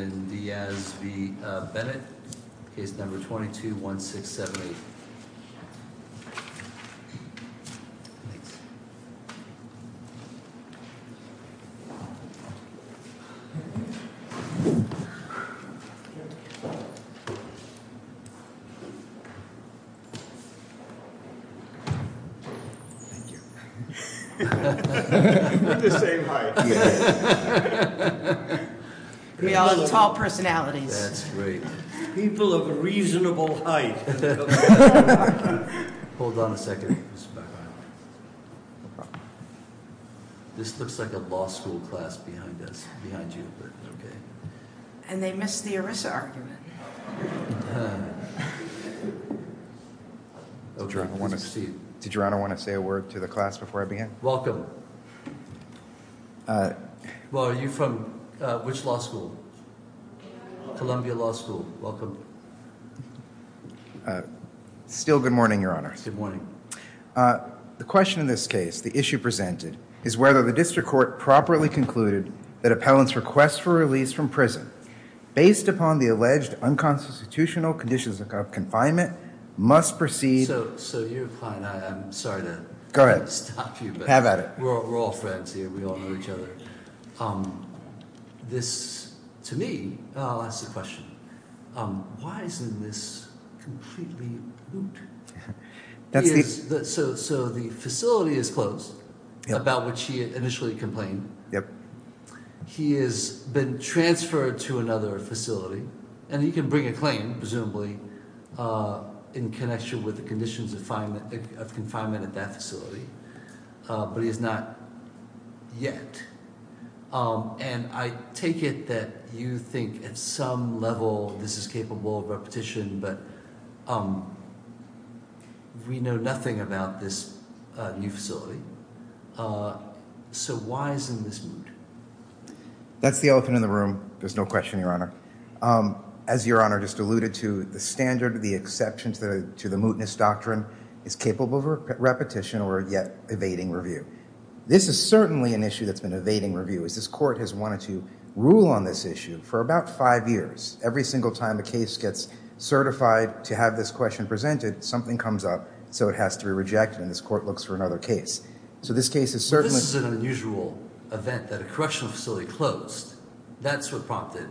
and Diaz v. Bennett, case number 22-1678. Be in the same height. We also have tall personalities. That's great. People of a reasonable height. Hold on a second. This looks like a law school class behind us, behind you. And they missed the Arisa argument. Did Your Honor want to say a word to the class before I begin? Welcome. Well, are you from which law school? Columbia Law School. Welcome. Still good morning, Your Honor. Good morning. The question in this case, the issue presented, is whether the District Court properly concluded that appellant's request for release from prison based upon the alleged unconstitutional conditions of confinement must proceed... So, you're fine. I'm sorry to stop you. Go ahead. Have at it. We're all friends here. We all know each other. This, to me, asks the question, why isn't this completely boot? So, the facility is closed, about which he initially complained. He has been transferred to another facility. And he can bring a claim, presumably, in connection with the conditions of confinement at that facility. But he has not yet. And I take it that you think at some level this is capable of repetition, but we know nothing about this new facility. So, why isn't this boot? That's the elephant in the room. There's no question, Your Honor. As Your Honor just alluded to, the standard, the exceptions to the mootness doctrine is capable of repetition or not yet evading review. This is certainly an issue that's been evading review. This Court has wanted to rule on this issue for about five years. Every single time a case gets certified to have this question presented, something comes up, so it has to be rejected, and this Court looks for another case. This is an unusual event that a correctional facility closed. That's what prompted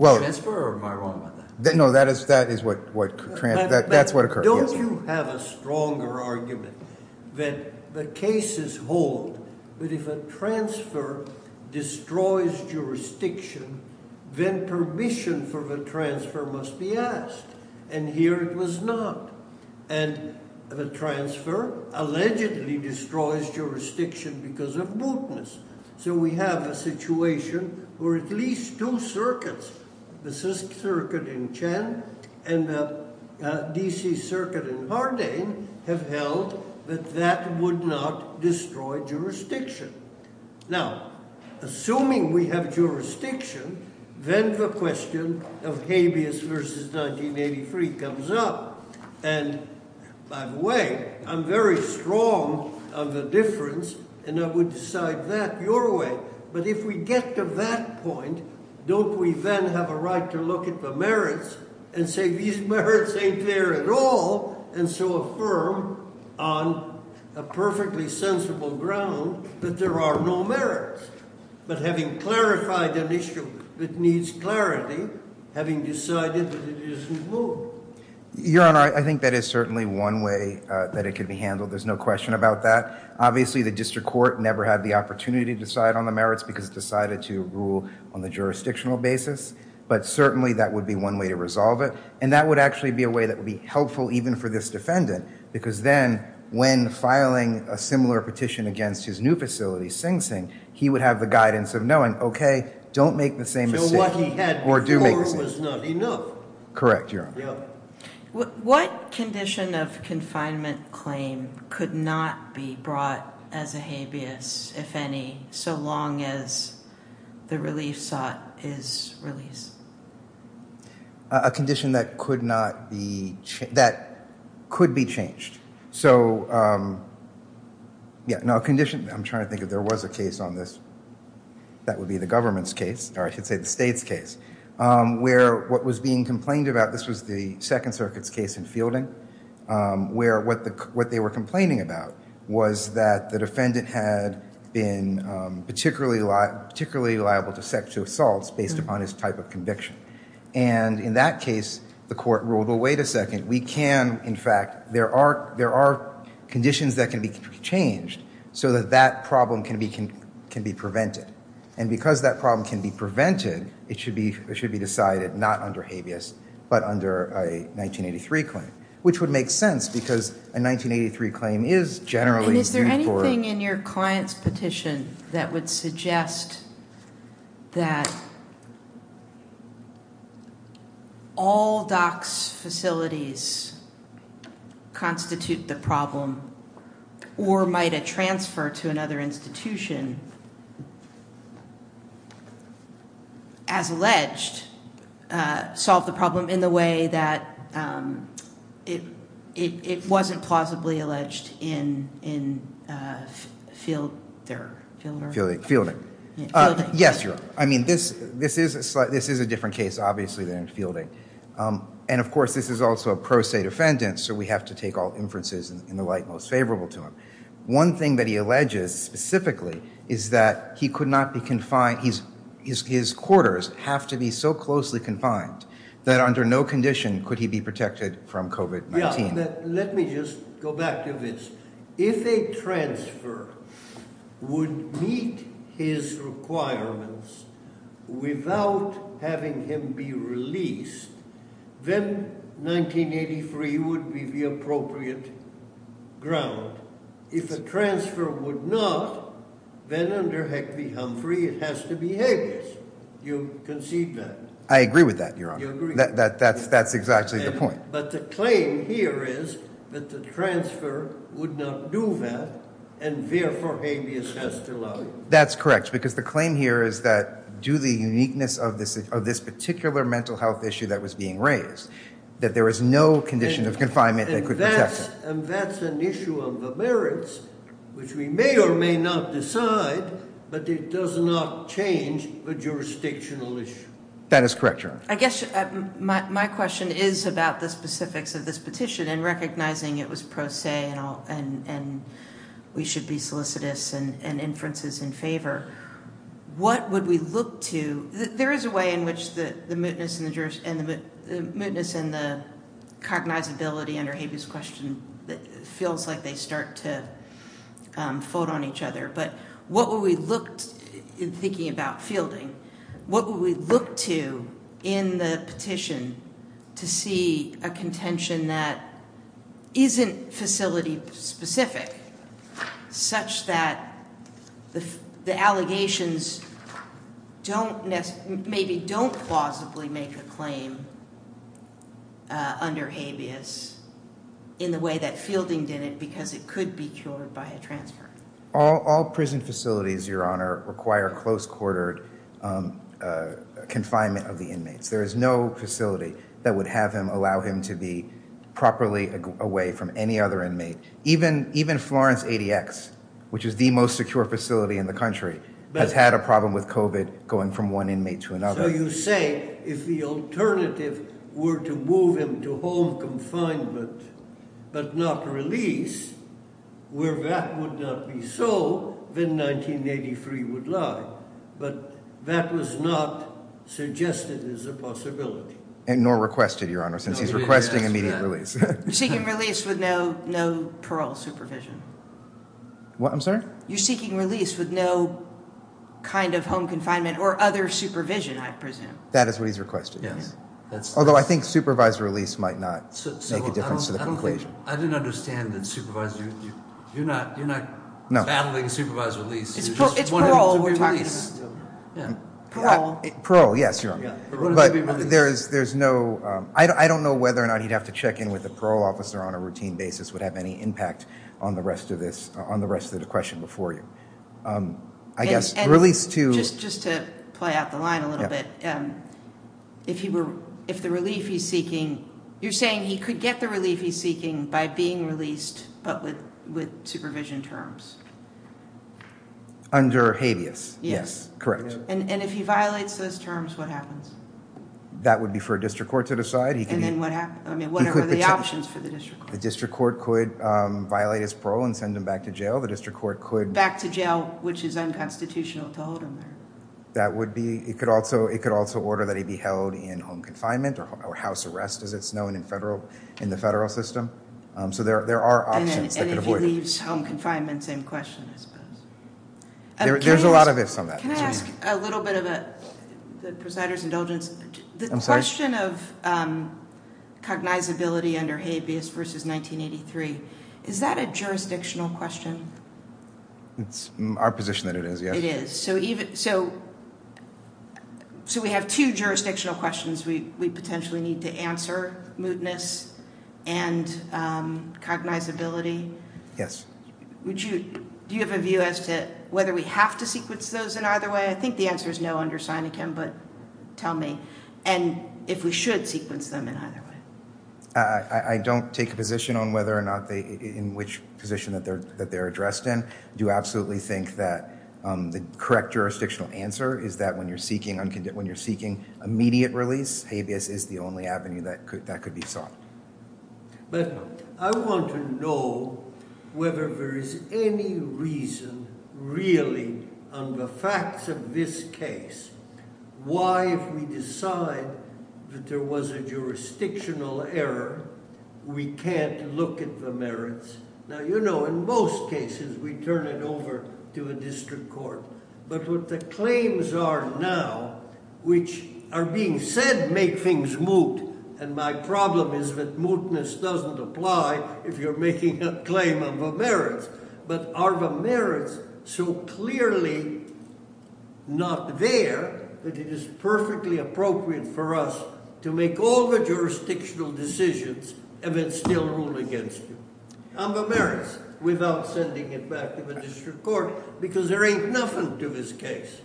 transfer, or am I wrong about that? No, that is what occurred. Don't you have a stronger argument that the cases hold that if a transfer destroys jurisdiction, then permission for the transfer must be asked, and here it was not. And the transfer allegedly destroys jurisdiction because of mootness. So we have a situation where at least two circuits, the CISC circuit in Chen and the ABC circuit in Hardane, have held that that would not destroy jurisdiction. Now, assuming we have jurisdiction, then the question of habeas versus 1983 comes up, and by the way, I'm very strong on the difference, and I would decide that your way, but if we get to that point, don't we then have a right to look at the merits and say these merits ain't there at all, and so affirm on a perfectly sensible ground that there are no merits, but having clarified an issue that needs clarity, having decided that it isn't moot. Your Honor, I think that is certainly one way that it could be handled. There's no question about that. Obviously the District Court never had the opportunity to decide on the merits because it decided to rule on the jurisdictional basis, but certainly that would be one way to resolve it, and that would actually be a way that would be helpful even for this defendant, because then when filing a similar petition against his new facility, Sing Sing, he would have the guidance of knowing okay, don't make the same mistake, or do make the same mistake. Correct, Your Honor. What condition of confinement claim could not be brought as a habeas if any, so long as the relief sought is released? A condition that could not be, that could be changed. So yeah, now a condition, I'm trying to think if there was a case on this, that would be the government's case, or I should say the state's case, where what was being complained about, this was the Second Circuit's case in Fielding, where what they were complaining about was that the defendant had been particularly liable to sexual assaults based upon his type of conviction. And in that case, the court ruled, well, wait a second, we can in fact, there are conditions that can be changed so that that problem can be prevented. And because that problem can be prevented, it should be decided not under habeas but under a 1983 claim, which would make sense because a 1983 claim is generally due for... And is there anything in your client's petition that would suggest that all DOCS facilities constitute the problem or might a transfer to another institution as alleged solve the problem in the way that it wasn't plausibly alleged in Fielding? Yes, Your Honor. I mean, this is a different case, obviously, than Fielding. And of course, this is also a pro se defendant, so we have to take all inferences in the light most favorable to him. One thing that he alleges specifically is that he could not be confined, his quarters have to be so closely confined that under no condition could he be protected from COVID-19. Yeah, let me just go back to this. If a transfer would meet his requirements without having him be released, then 1983 would be the appropriate ground. If a transfer would not, then under Heckley-Humphrey, it has to be habeas. Do you concede that? I agree with that, Your Honor. That's exactly the point. But the claim here is that the transfer would not do that and therefore habeas has to lie. That's correct, because the claim here is that, due to the uniqueness of this particular mental health issue that was being raised, that there is no condition of confinement that could protect him. And that's an issue of the merits, which we may or may not decide, but it does not change the jurisdictional issue. That is correct, Your Honor. I guess my question is about the specifics of this petition and recognizing it was pro se and we should be solicitous and inferences in favor. What would we look to? There is a way in which the mootness and the cognizability under habeas question feels like they start to fold on each other, but what would we look in thinking about fielding? What would we look to in the petition to see a contention that isn't facility specific such that the allegations maybe don't plausibly make a claim under habeas in the way that fielding did it because it could be cured by a transfer? All prison facilities, Your Honor, require close-quartered confinement of the inmates. There is no facility that would have him allow him to be properly away from any other inmate. Even Florence ADX, which is the most secure facility in the country, has had a problem with COVID going from one inmate to another. So you say if the alternative were to move him to home confinement but not release where that would not be so, then 1983 would lie. But that was not suggested as a possibility. Nor requested, Your Honor, since he's requesting immediate release. You're seeking release with no parole supervision. What, I'm sorry? You're seeking release with no kind of home confinement or other supervision, I presume. That is what he's requested, yes. Although I think supervised release might not make a difference to the conclusion. I didn't understand the supervised. You're not battling supervised release. It's parole. Parole, yes, Your Honor. But there's no, I don't know whether or not he'd have to check in with a parole officer on a routine basis would have any impact on the rest of the question before you. Just to play out the line a little bit, if the relief he's seeking, you're saying he could get the relief he's seeking by being released but with supervision terms? Under habeas, yes. Correct. And if he violates those terms, what happens? That would be for a district court to decide. And then what happens, I mean, what are the options for the district court? The district court could violate his parole and send him back to jail. Back to jail, which is unconstitutional to hold him there. It could also order that he be held in home confinement or house arrest as it's known in the federal system. So there are options. And if he leaves home confinement, same question, I suppose. There's a lot of ifs on that. Can I ask a little bit of a presider's indulgence? The question of cognizability under habeas versus 1983, is that a jurisdictional question? It's our position that it is, yes. It is. So we have two jurisdictional questions we potentially need to answer, mootness and cognizability. Yes. Do you have a view as to whether we have to sequence those in either way? I think the answer is no under Seneca, but tell me. And if we should sequence them in either way. I don't take a position on whether or not they, in which position that they're addressed in. I do absolutely think that the correct jurisdictional answer is that when you're seeking immediate release, habeas is the only avenue that could be sought. But I want to know whether there is any reason really on the facts of this case why if we decide that there was a jurisdictional error, we can't look at the merits. Now you know in most cases we turn it over to a district court. But what the claims are now, which are being said make things moot. And my problem is that mootness doesn't apply if you're making a claim on the merits. But are the merits so clearly not there that it is perfectly appropriate for us to make all the jurisdictional decisions and then still rule against you on the merits without sending it back to the district court. Because there ain't nothing to this case.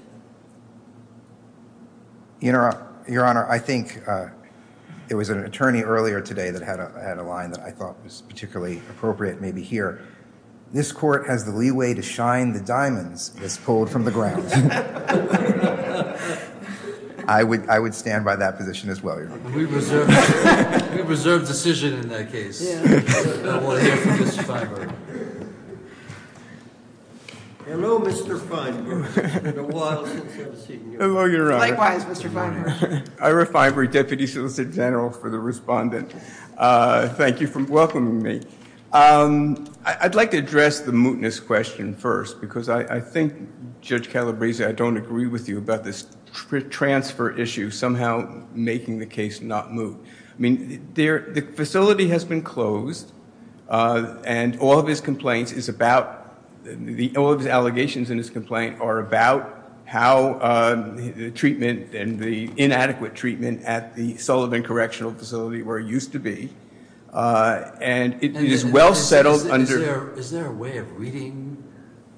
Your Honor, I think there was an attorney earlier today that had a line that I thought was particularly appropriate maybe here. This court has the leeway to shine the diamonds that's pulled from the ground. I would stand by that position as well. We reserve decision in that case. I want to hear from Mr. Feinberg. Hello, Mr. Feinberg. It's been a while since I've seen you. Likewise, Mr. Feinberg. Ira Feinberg, Deputy Solicitor General for the Respondent. Thank you for welcoming me. I'd like to address the mootness question first because I think, Judge Calabresi, I don't agree with you about this transfer issue somehow making the case not moot. The facility has been closed and all of his allegations in his complaint are about how the inadequate treatment at the Sullivan Correctional Facility where it used to be. Is there a way of reading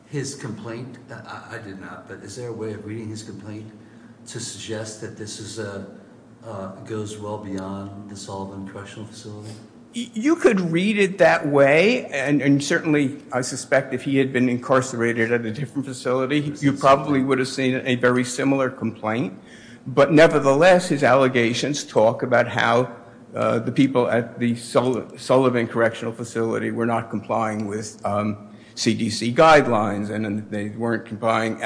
his complaint? I did not, but is there a way of reading his complaint to suggest that this goes well beyond the Sullivan Correctional Facility? You could read it that way and certainly I suspect if he had been incarcerated at a different facility, you probably would have seen a very similar complaint. But nevertheless, his allegations talk about how the people at the Sullivan Correctional Facility were not complying with CDC guidelines and they weren't providing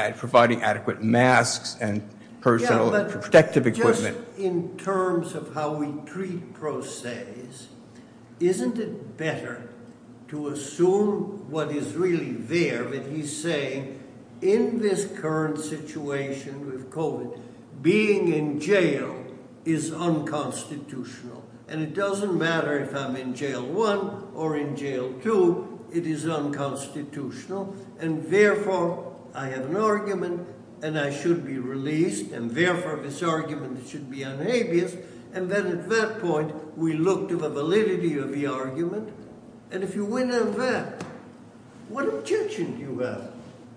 adequate masks and personal protective equipment. Just in terms of how we treat pro se's, isn't it better to assume what is really there? But he's saying in this current situation with COVID being in jail is unconstitutional and it doesn't matter if I'm in Jail 1 or in Jail 2 it is unconstitutional and therefore I have an argument and I should be released and therefore this argument should be unhabeas and then at that point we look to the validity of the argument and if you win on that what objection do you have?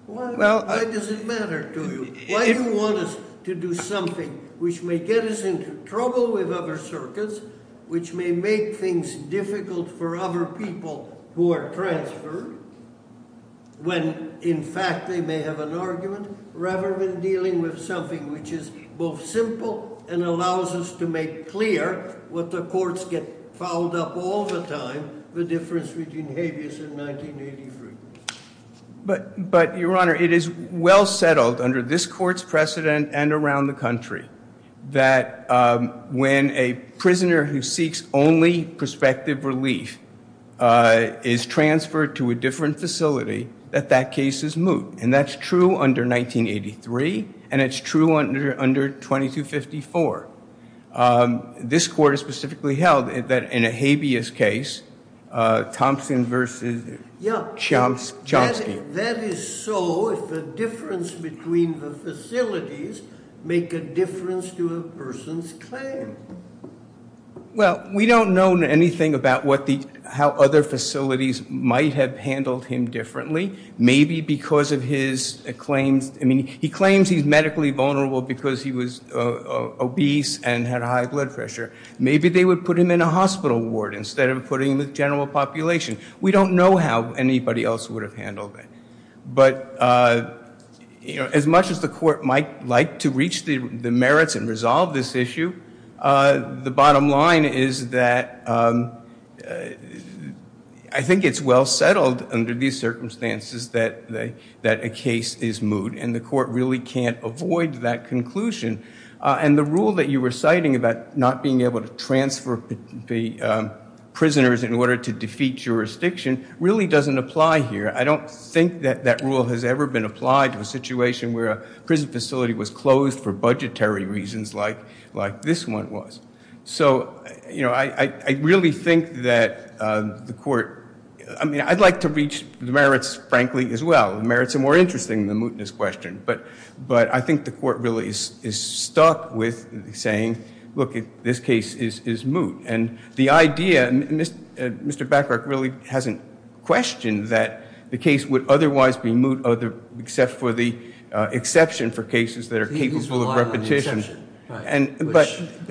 Why does it matter to you? Why do you want us to do something which may get us into trouble with other circuits, which may make things difficult for other people who are transferred when in fact they may have an argument rather than dealing with something which is both simple and allows us to make clear what the courts get fouled up all the time, the difference between habeas and 1983. But Your Honor it is well settled under this court's precedent and around the country that when a prisoner who seeks only prospective relief is transferred to a different facility that that case is moot and that's true under 1983 and it's true under 2254. This court specifically held that in a habeas case Thompson versus Chomsky. That is so if the difference between the facilities make a difference to a person's claim. Well we don't know anything about how other facilities might have handled him differently maybe because of his claims. I mean he claims he's medically vulnerable because he was obese and had high blood pressure. Maybe they would put him in a hospital ward instead of putting him in general population. We don't know how anybody else would have handled it. But as much as the court might like to reach the merits and resolve this issue, the bottom line is that I think it's well settled under the circumstances that a case is moot and the court really can't avoid that conclusion. And the rule that you were citing about not being able to transfer the prisoners in order to defeat jurisdiction really doesn't apply here. I don't think that rule has ever been applied to a situation where a prison facility was closed for budgetary reasons like this one was. So I really think that the court I mean I'd like to reach the merits frankly as well. The merits are more interesting than the mootness question. But I think the court really is stuck with saying look this case is moot. And the idea, Mr. Bacharach really hasn't questioned that the case would otherwise be moot except for the exception for cases that are capable of repetition.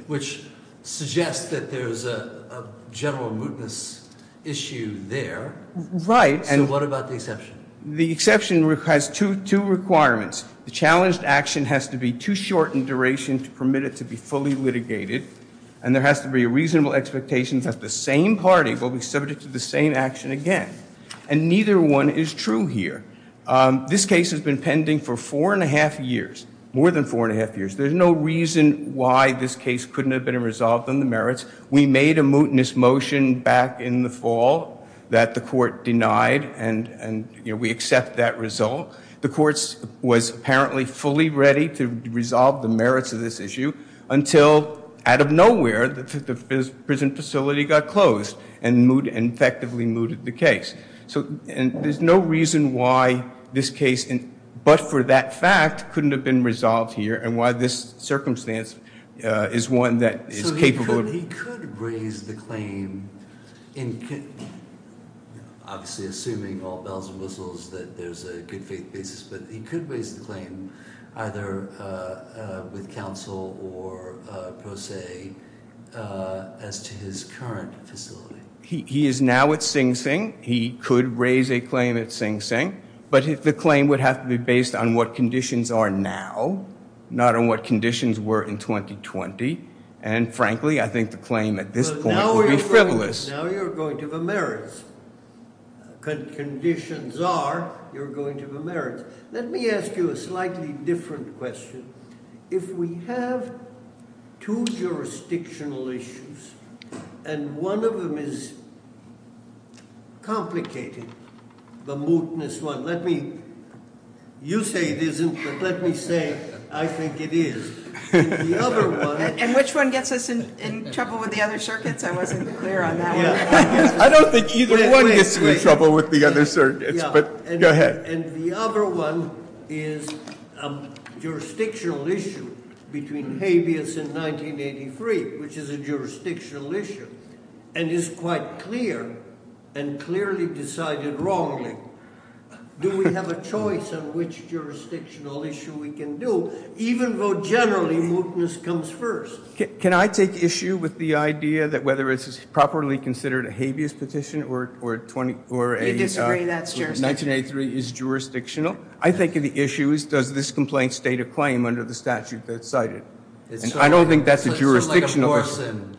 Which suggests that there's a general mootness issue there. So what about the exception? The exception has two requirements. The challenged action has to be too short in duration to permit it to be fully litigated. And there has to be a reasonable expectation that the same party will be subject to the same action again. And neither one is true here. This case has been pending for four and a half years. More than four and a half years. There's no reason why this case couldn't have been resolved on the merits. We made a mootness motion back in the fall that the court denied and we accept that result. The court was apparently fully ready to resolve the merits of this issue until out of nowhere the prison facility got closed and effectively mooted the case. So there's no reason why this case but for that fact couldn't have been resolved here and why this circumstance is one that is capable. So he could raise the claim in obviously assuming all bells and whistles that there's a good faith basis but he could raise the claim either with counsel or pro se as to his current facility. He is now at Sing Sing. He could raise a claim at Sing Sing. But the claim would have to be based on what conditions are now. Not on what conditions were in 2020. And frankly I think the claim at this point would be frivolous. Now you're going to the merits. Conditions are you're going to the merits. Let me ask you a slightly different question. If we have two jurisdictional issues and one of them is complicated. The mootness one. You say it isn't but let me say I think it is. And which one gets us in trouble with the other circuits? I wasn't clear on that one. I don't think either one gets you in trouble with the other circuits but go ahead. And the other one is a jurisdictional issue between habeas and 1983 which is a jurisdictional issue. And is quite clear and clearly decided wrongly. Do we have a choice on which jurisdictional issue we can do? Even though generally mootness comes first. Can I take issue with the idea that whether it's properly considered a habeas petition or a 1983 is jurisdictional? I think the issue is does this complaint state a claim under the statute that's cited? And I don't think that's a jurisdictional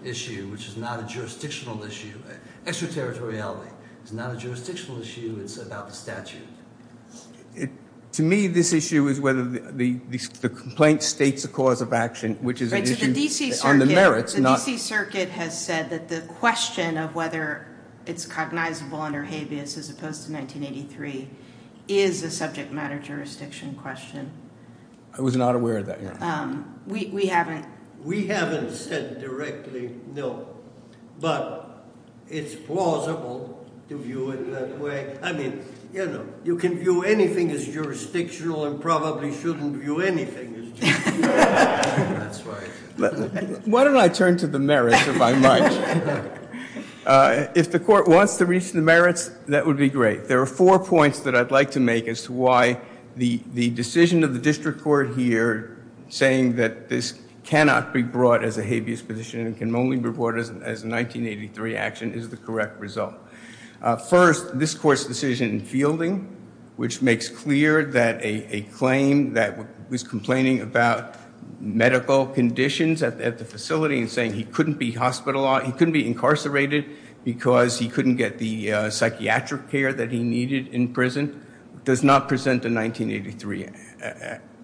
issue. Which is not a jurisdictional issue. Extraterritoriality is not a jurisdictional issue. It's about the statute. To me this issue is whether the complaint states a cause of action which is an issue on the merits. The D.C. Circuit has said that the question of whether it's cognizable under habeas as opposed to 1983 is a subject matter jurisdiction question. I was not aware of that. We haven't said directly no. But it's plausible to view it that way. I mean, you know, you can view anything as jurisdictional and probably shouldn't view anything as jurisdictional. Why don't I turn to the merits if I might? If the court wants to reach the merits, that would be great. There are four points that I'd like to make as to why the decision of the district court here saying that this cannot be brought as a habeas position and can only be brought as a 1983 action is the correct result. First, this court's decision in fielding which makes clear that a claim that was complaining about medical conditions at the facility and saying he couldn't be hospitalized, he couldn't be incarcerated because he couldn't get the psychiatric care that he needed in prison does not present a 1983,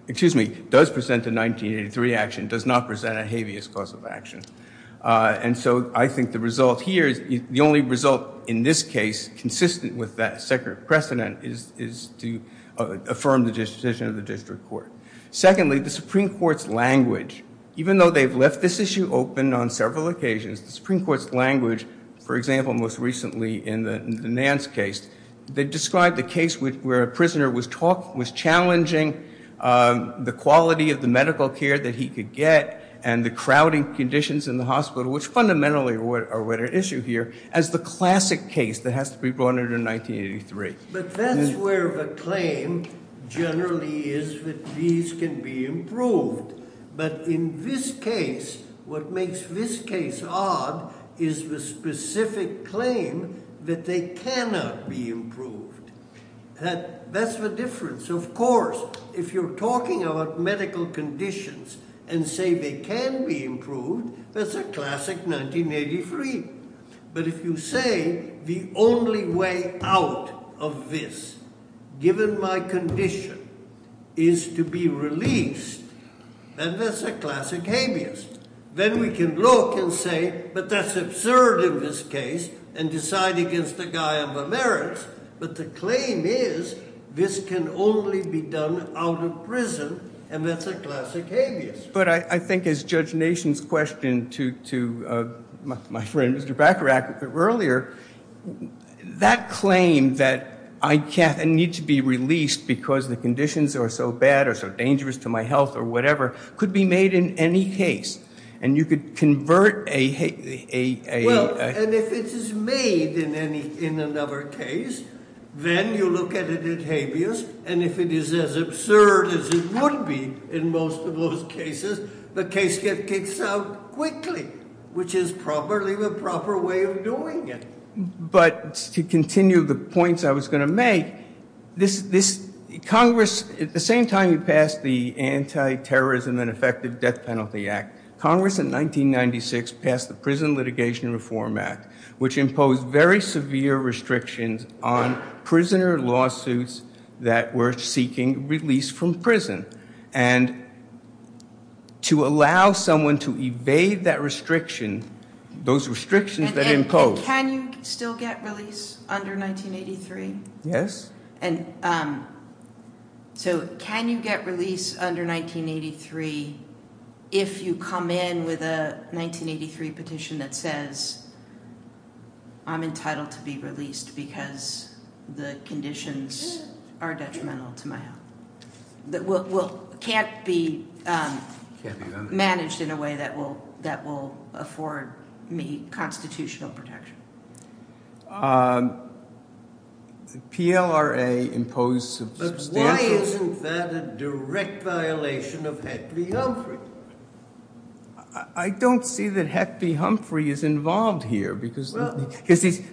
excuse me, does present a 1983 action, does not present a habeas cause of action. And so I think the result here, the only result in this case consistent with that separate precedent is to affirm the decision of the district court. Secondly, the Supreme Court's language, even though they've left this issue open on several occasions, the Supreme Court's language for example most recently in the Nance case, they described the case where a prisoner was challenging the quality of the medical care that he could get and the crowding conditions in the hospital which fundamentally are what are at issue here as the classic case that has to be brought under 1983. But that's where the claim generally is that these can be improved. But in this case, what makes this case odd is the specific claim that they cannot be improved. That's the difference. Of course, if you're talking about medical conditions and say they can be improved, that's a classic 1983. But if you say the only way out of this given my condition is to be released, then that's a classic habeas. Then we can look and say, but that's absurd in this case and decide against the merits, but the claim is this can only be done out of prison and that's a classic habeas. But I think as Judge Nation's question to my friend Mr. Bacharach earlier, that claim that I need to be released because the conditions are so bad or so dangerous to my health or whatever could be made in any case. And you could convert a... Well, and if it is made in another case, then you look at it as habeas. And if it is as absurd as it would be in most of those cases, the case gets kicked out quickly, which is probably the proper way of doing it. But to continue the points I was going to make, Congress, at the same time we passed the Anti-Terrorism and Effective Death Penalty Act, Congress in 1996 passed the Prison Litigation Reform Act, which imposed very severe restrictions on prisoner lawsuits that were seeking release from prison. And to allow someone to evade that restriction, those restrictions that imposed... And can you still get release under 1983? Yes. And so can you get release under 1983 if you come in with a 1983 petition that says I'm entitled to be released because the conditions are detrimental to my health? Can't be managed in a way that will afford me constitutional protection? PLRA imposed substantial... But why isn't that a direct violation of Heck v. Humphrey? I don't see that Heck v. Humphrey is involved here, because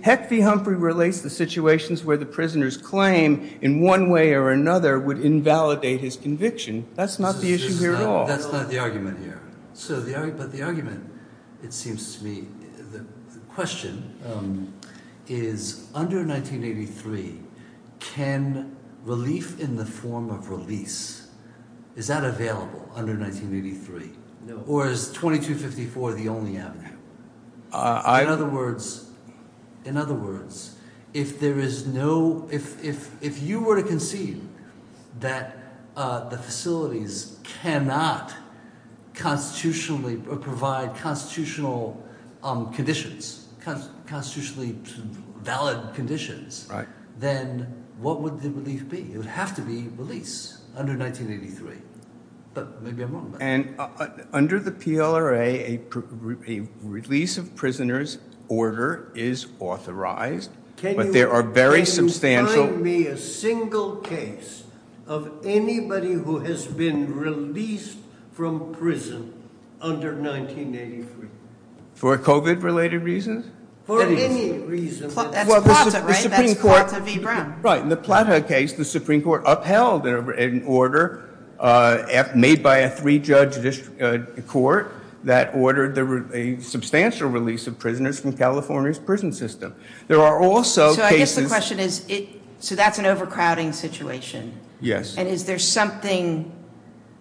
Heck v. Humphrey relates the situations where the prisoner's claim in one way or another would invalidate his conviction. That's not the issue here at all. That's not the argument here. But the argument, it seems to me, the question is under 1983 can relief in the form of release, is that available under 1983? Or is 2254 the only avenue? In other words, if there is no... If you were to concede that the facilities cannot constitutionally provide constitutional conditions, constitutionally valid conditions, then what would the relief be? It would have to be release under 1983. And under the PLRA, a release of prisoners order is authorized, but there are very substantial... Can you find me a single case of anybody who has been released from prison under 1983? For COVID-related reasons? For any reason. That's Plata, right? That's Plata v. Brown. Right. In the Plata case, the Supreme Court upheld an order made by a three-judge court that ordered a substantial release of prisoners from California's prison system. There are also cases... So I guess the question is, so that's an overcrowding situation? Yes. And is there something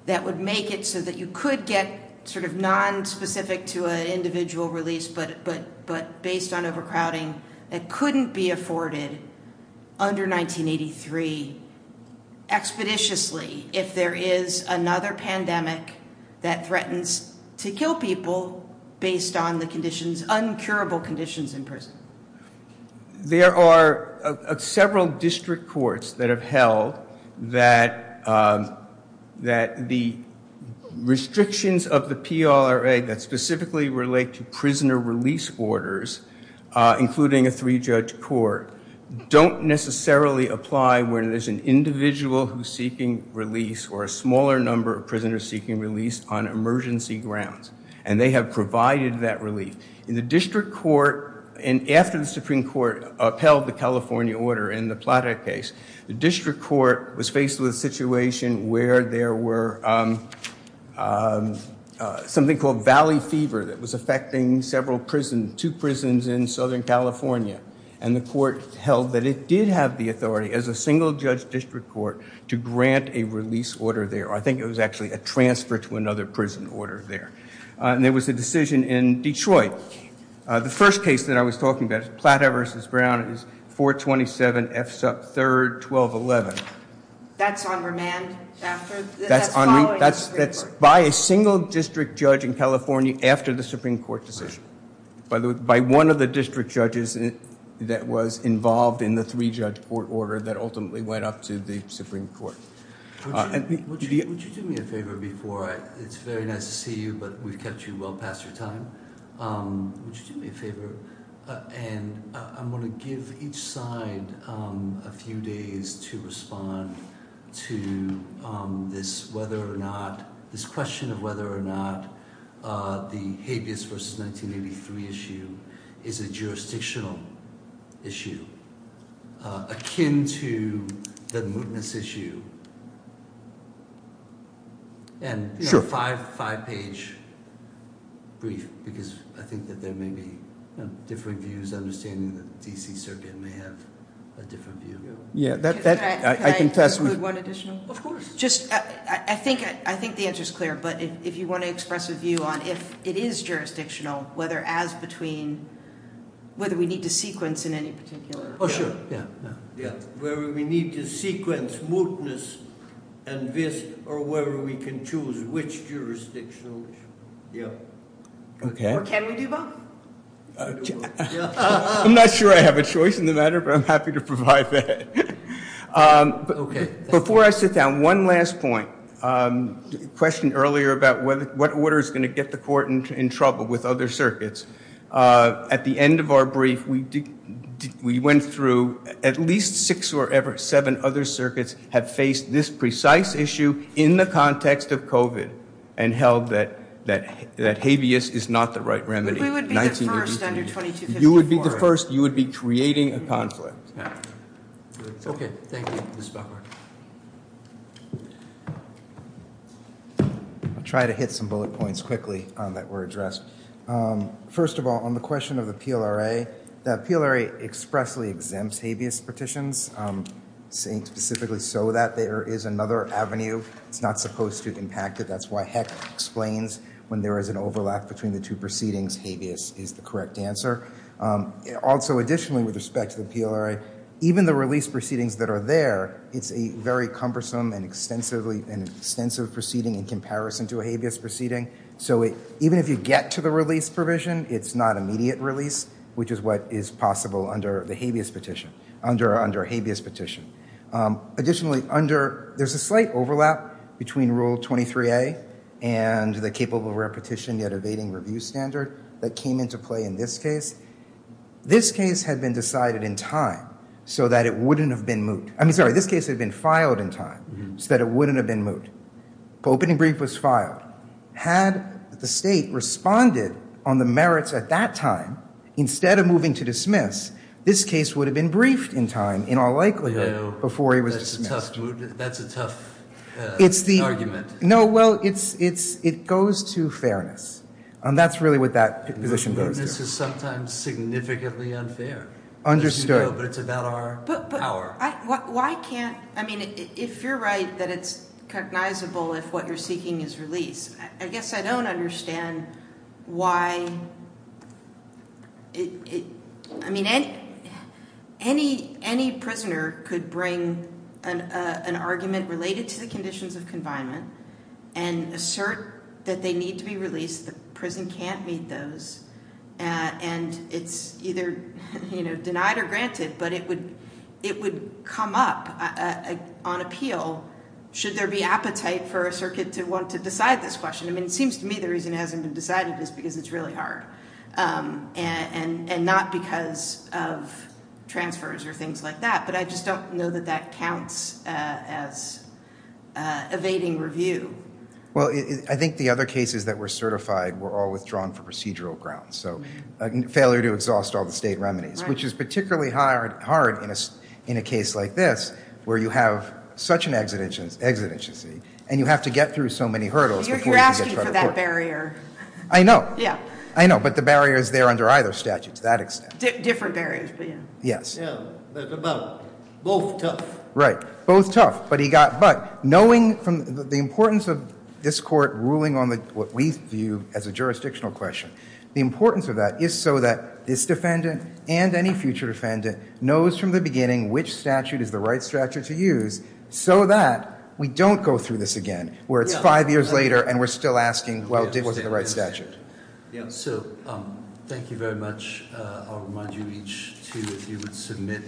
that would make it so that you could get sort of non-specific to an individual release, but based on overcrowding that couldn't be under 1983, expeditiously, if there is another pandemic that threatens to kill people based on the conditions, uncurable conditions in prison? There are several district courts that have held that the restrictions of the PLRA that specifically relate to prisoner release orders, including a three-judge court, don't necessarily apply when there's an individual who's seeking release or a smaller number of prisoners seeking release on emergency grounds. And they have provided that relief. In the district court, and after the Supreme Court upheld the California order in the Plata case, the district court was faced with a situation where there were something called valley fever that was affecting several prisons, two prisons in Southern California. And the court held that it did have the authority as a single-judge district court to grant a release order there. I think it was actually a transfer to another prison order there. And there was a decision in Detroit. The first case that I was talking about, Plata v. Brown, is 427 F. Supp. 3, 1211. That's on remand after? That's following the Supreme Court? That's by a single-district judge in California after the Supreme Court decision. By one of the district judges that was involved in the three-judge court order that ultimately went up to the Supreme Court. Would you do me a favor before I... It's very nice to see you, but we've kept you well past your time. Would you do me a favor? And I'm going to give each side a few days to respond to this question of whether or not the habeas versus 1983 issue is a jurisdictional issue akin to the mootness issue. And a five-page brief because I think that there may be different views, understanding that D.C. Serbian may have a different view. Can I include one additional? Of course. I think the answer is clear, but if you want to express a view on if it is jurisdictional, whether as between whether we need to sequence in any particular... Oh, sure. Whether we need to sequence mootness and this, or whether we can choose which jurisdictional issue. Or can we do both? I'm not sure I have a choice in the matter, but I'm happy to provide that. Before I sit down, one last point. A question earlier about what order is going to get the court in trouble with other circuits. At the end of our brief, we went through at least six or seven other circuits have faced this precise issue in the context of COVID and held that habeas is not the right remedy. We would be the first under 2254. You would be the first. You would be creating a conflict. Okay. Thank you. I'll try to hit some bullet points quickly that were addressed. First of all, on the question of the PLRA, the PLRA expressly exempts habeas petitions, saying specifically so that there is another avenue that's not supposed to impact it. That's why Heck explains when there is an overlap between the two proceedings, habeas is the correct answer. Also, additionally, with respect to the PLRA, even the release proceedings that are there, it's a very cumbersome and extensive proceeding in comparison to a habeas proceeding. Even if you get to the release provision, it's not immediate release, which is what is possible under the habeas petition. Additionally, there's a slight overlap between Rule 23A and the capable rare petition yet evading review standard that came into play in this case. This case had been decided in time so that it wouldn't have been moot. I mean, sorry, this case had been filed in time so that it wouldn't have been moot. Opening brief was filed. Had the state responded on the merits at that time, instead of moving to dismiss, this case would have been briefed in time, in all likelihood, before he was dismissed. That's a tough argument. No, well, it goes to fairness. That's really what that position goes to. This is sometimes significantly unfair. If you're right that it's cognizable if what you're seeking is release, I guess I don't understand why any prisoner could bring an argument related to the conditions of confinement and assert that they need to be released, the prison can't meet those, and it's either denied or granted, but it would come up on appeal should there be appetite for a circuit to want to decide this question. I mean, it seems to me the reason it hasn't been decided is because it's really hard and not because of transfers or things like that, but I just don't know that that counts as evading review. Well, I think the other cases that were certified were all withdrawn for procedural grounds, so failure to exhaust all the state remedies, which is particularly hard in a case like this, where you have such an exigency and you have to get through so many hurdles before you can get to court. You're asking for that barrier. I know. Yeah. I know, but the barrier is there under either statute to that extent. Different barriers, but yeah. Yes. Yeah, but about both tough. Right. Both tough, but knowing from the importance of this court ruling on what we view as a jurisdictional question, the importance of that is so that this defendant and any future defendant knows from the beginning which statute is the right statute to use so that we don't go through this again, where it's five years later and we're still asking, well, it wasn't the right statute. Yeah. So thank you very much. I'll remind you each two if you would submit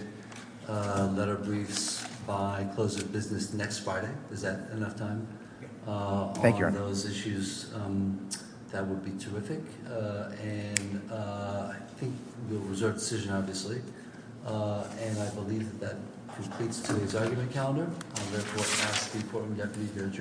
letter briefs by close of business next Friday. Is that enough time? Thank you, Your Honor. On those issues that would be terrific, and I think you'll reserve a decision, obviously, and I believe that completes today's argument calendar. I therefore ask the courtroom deputy here to adjourn.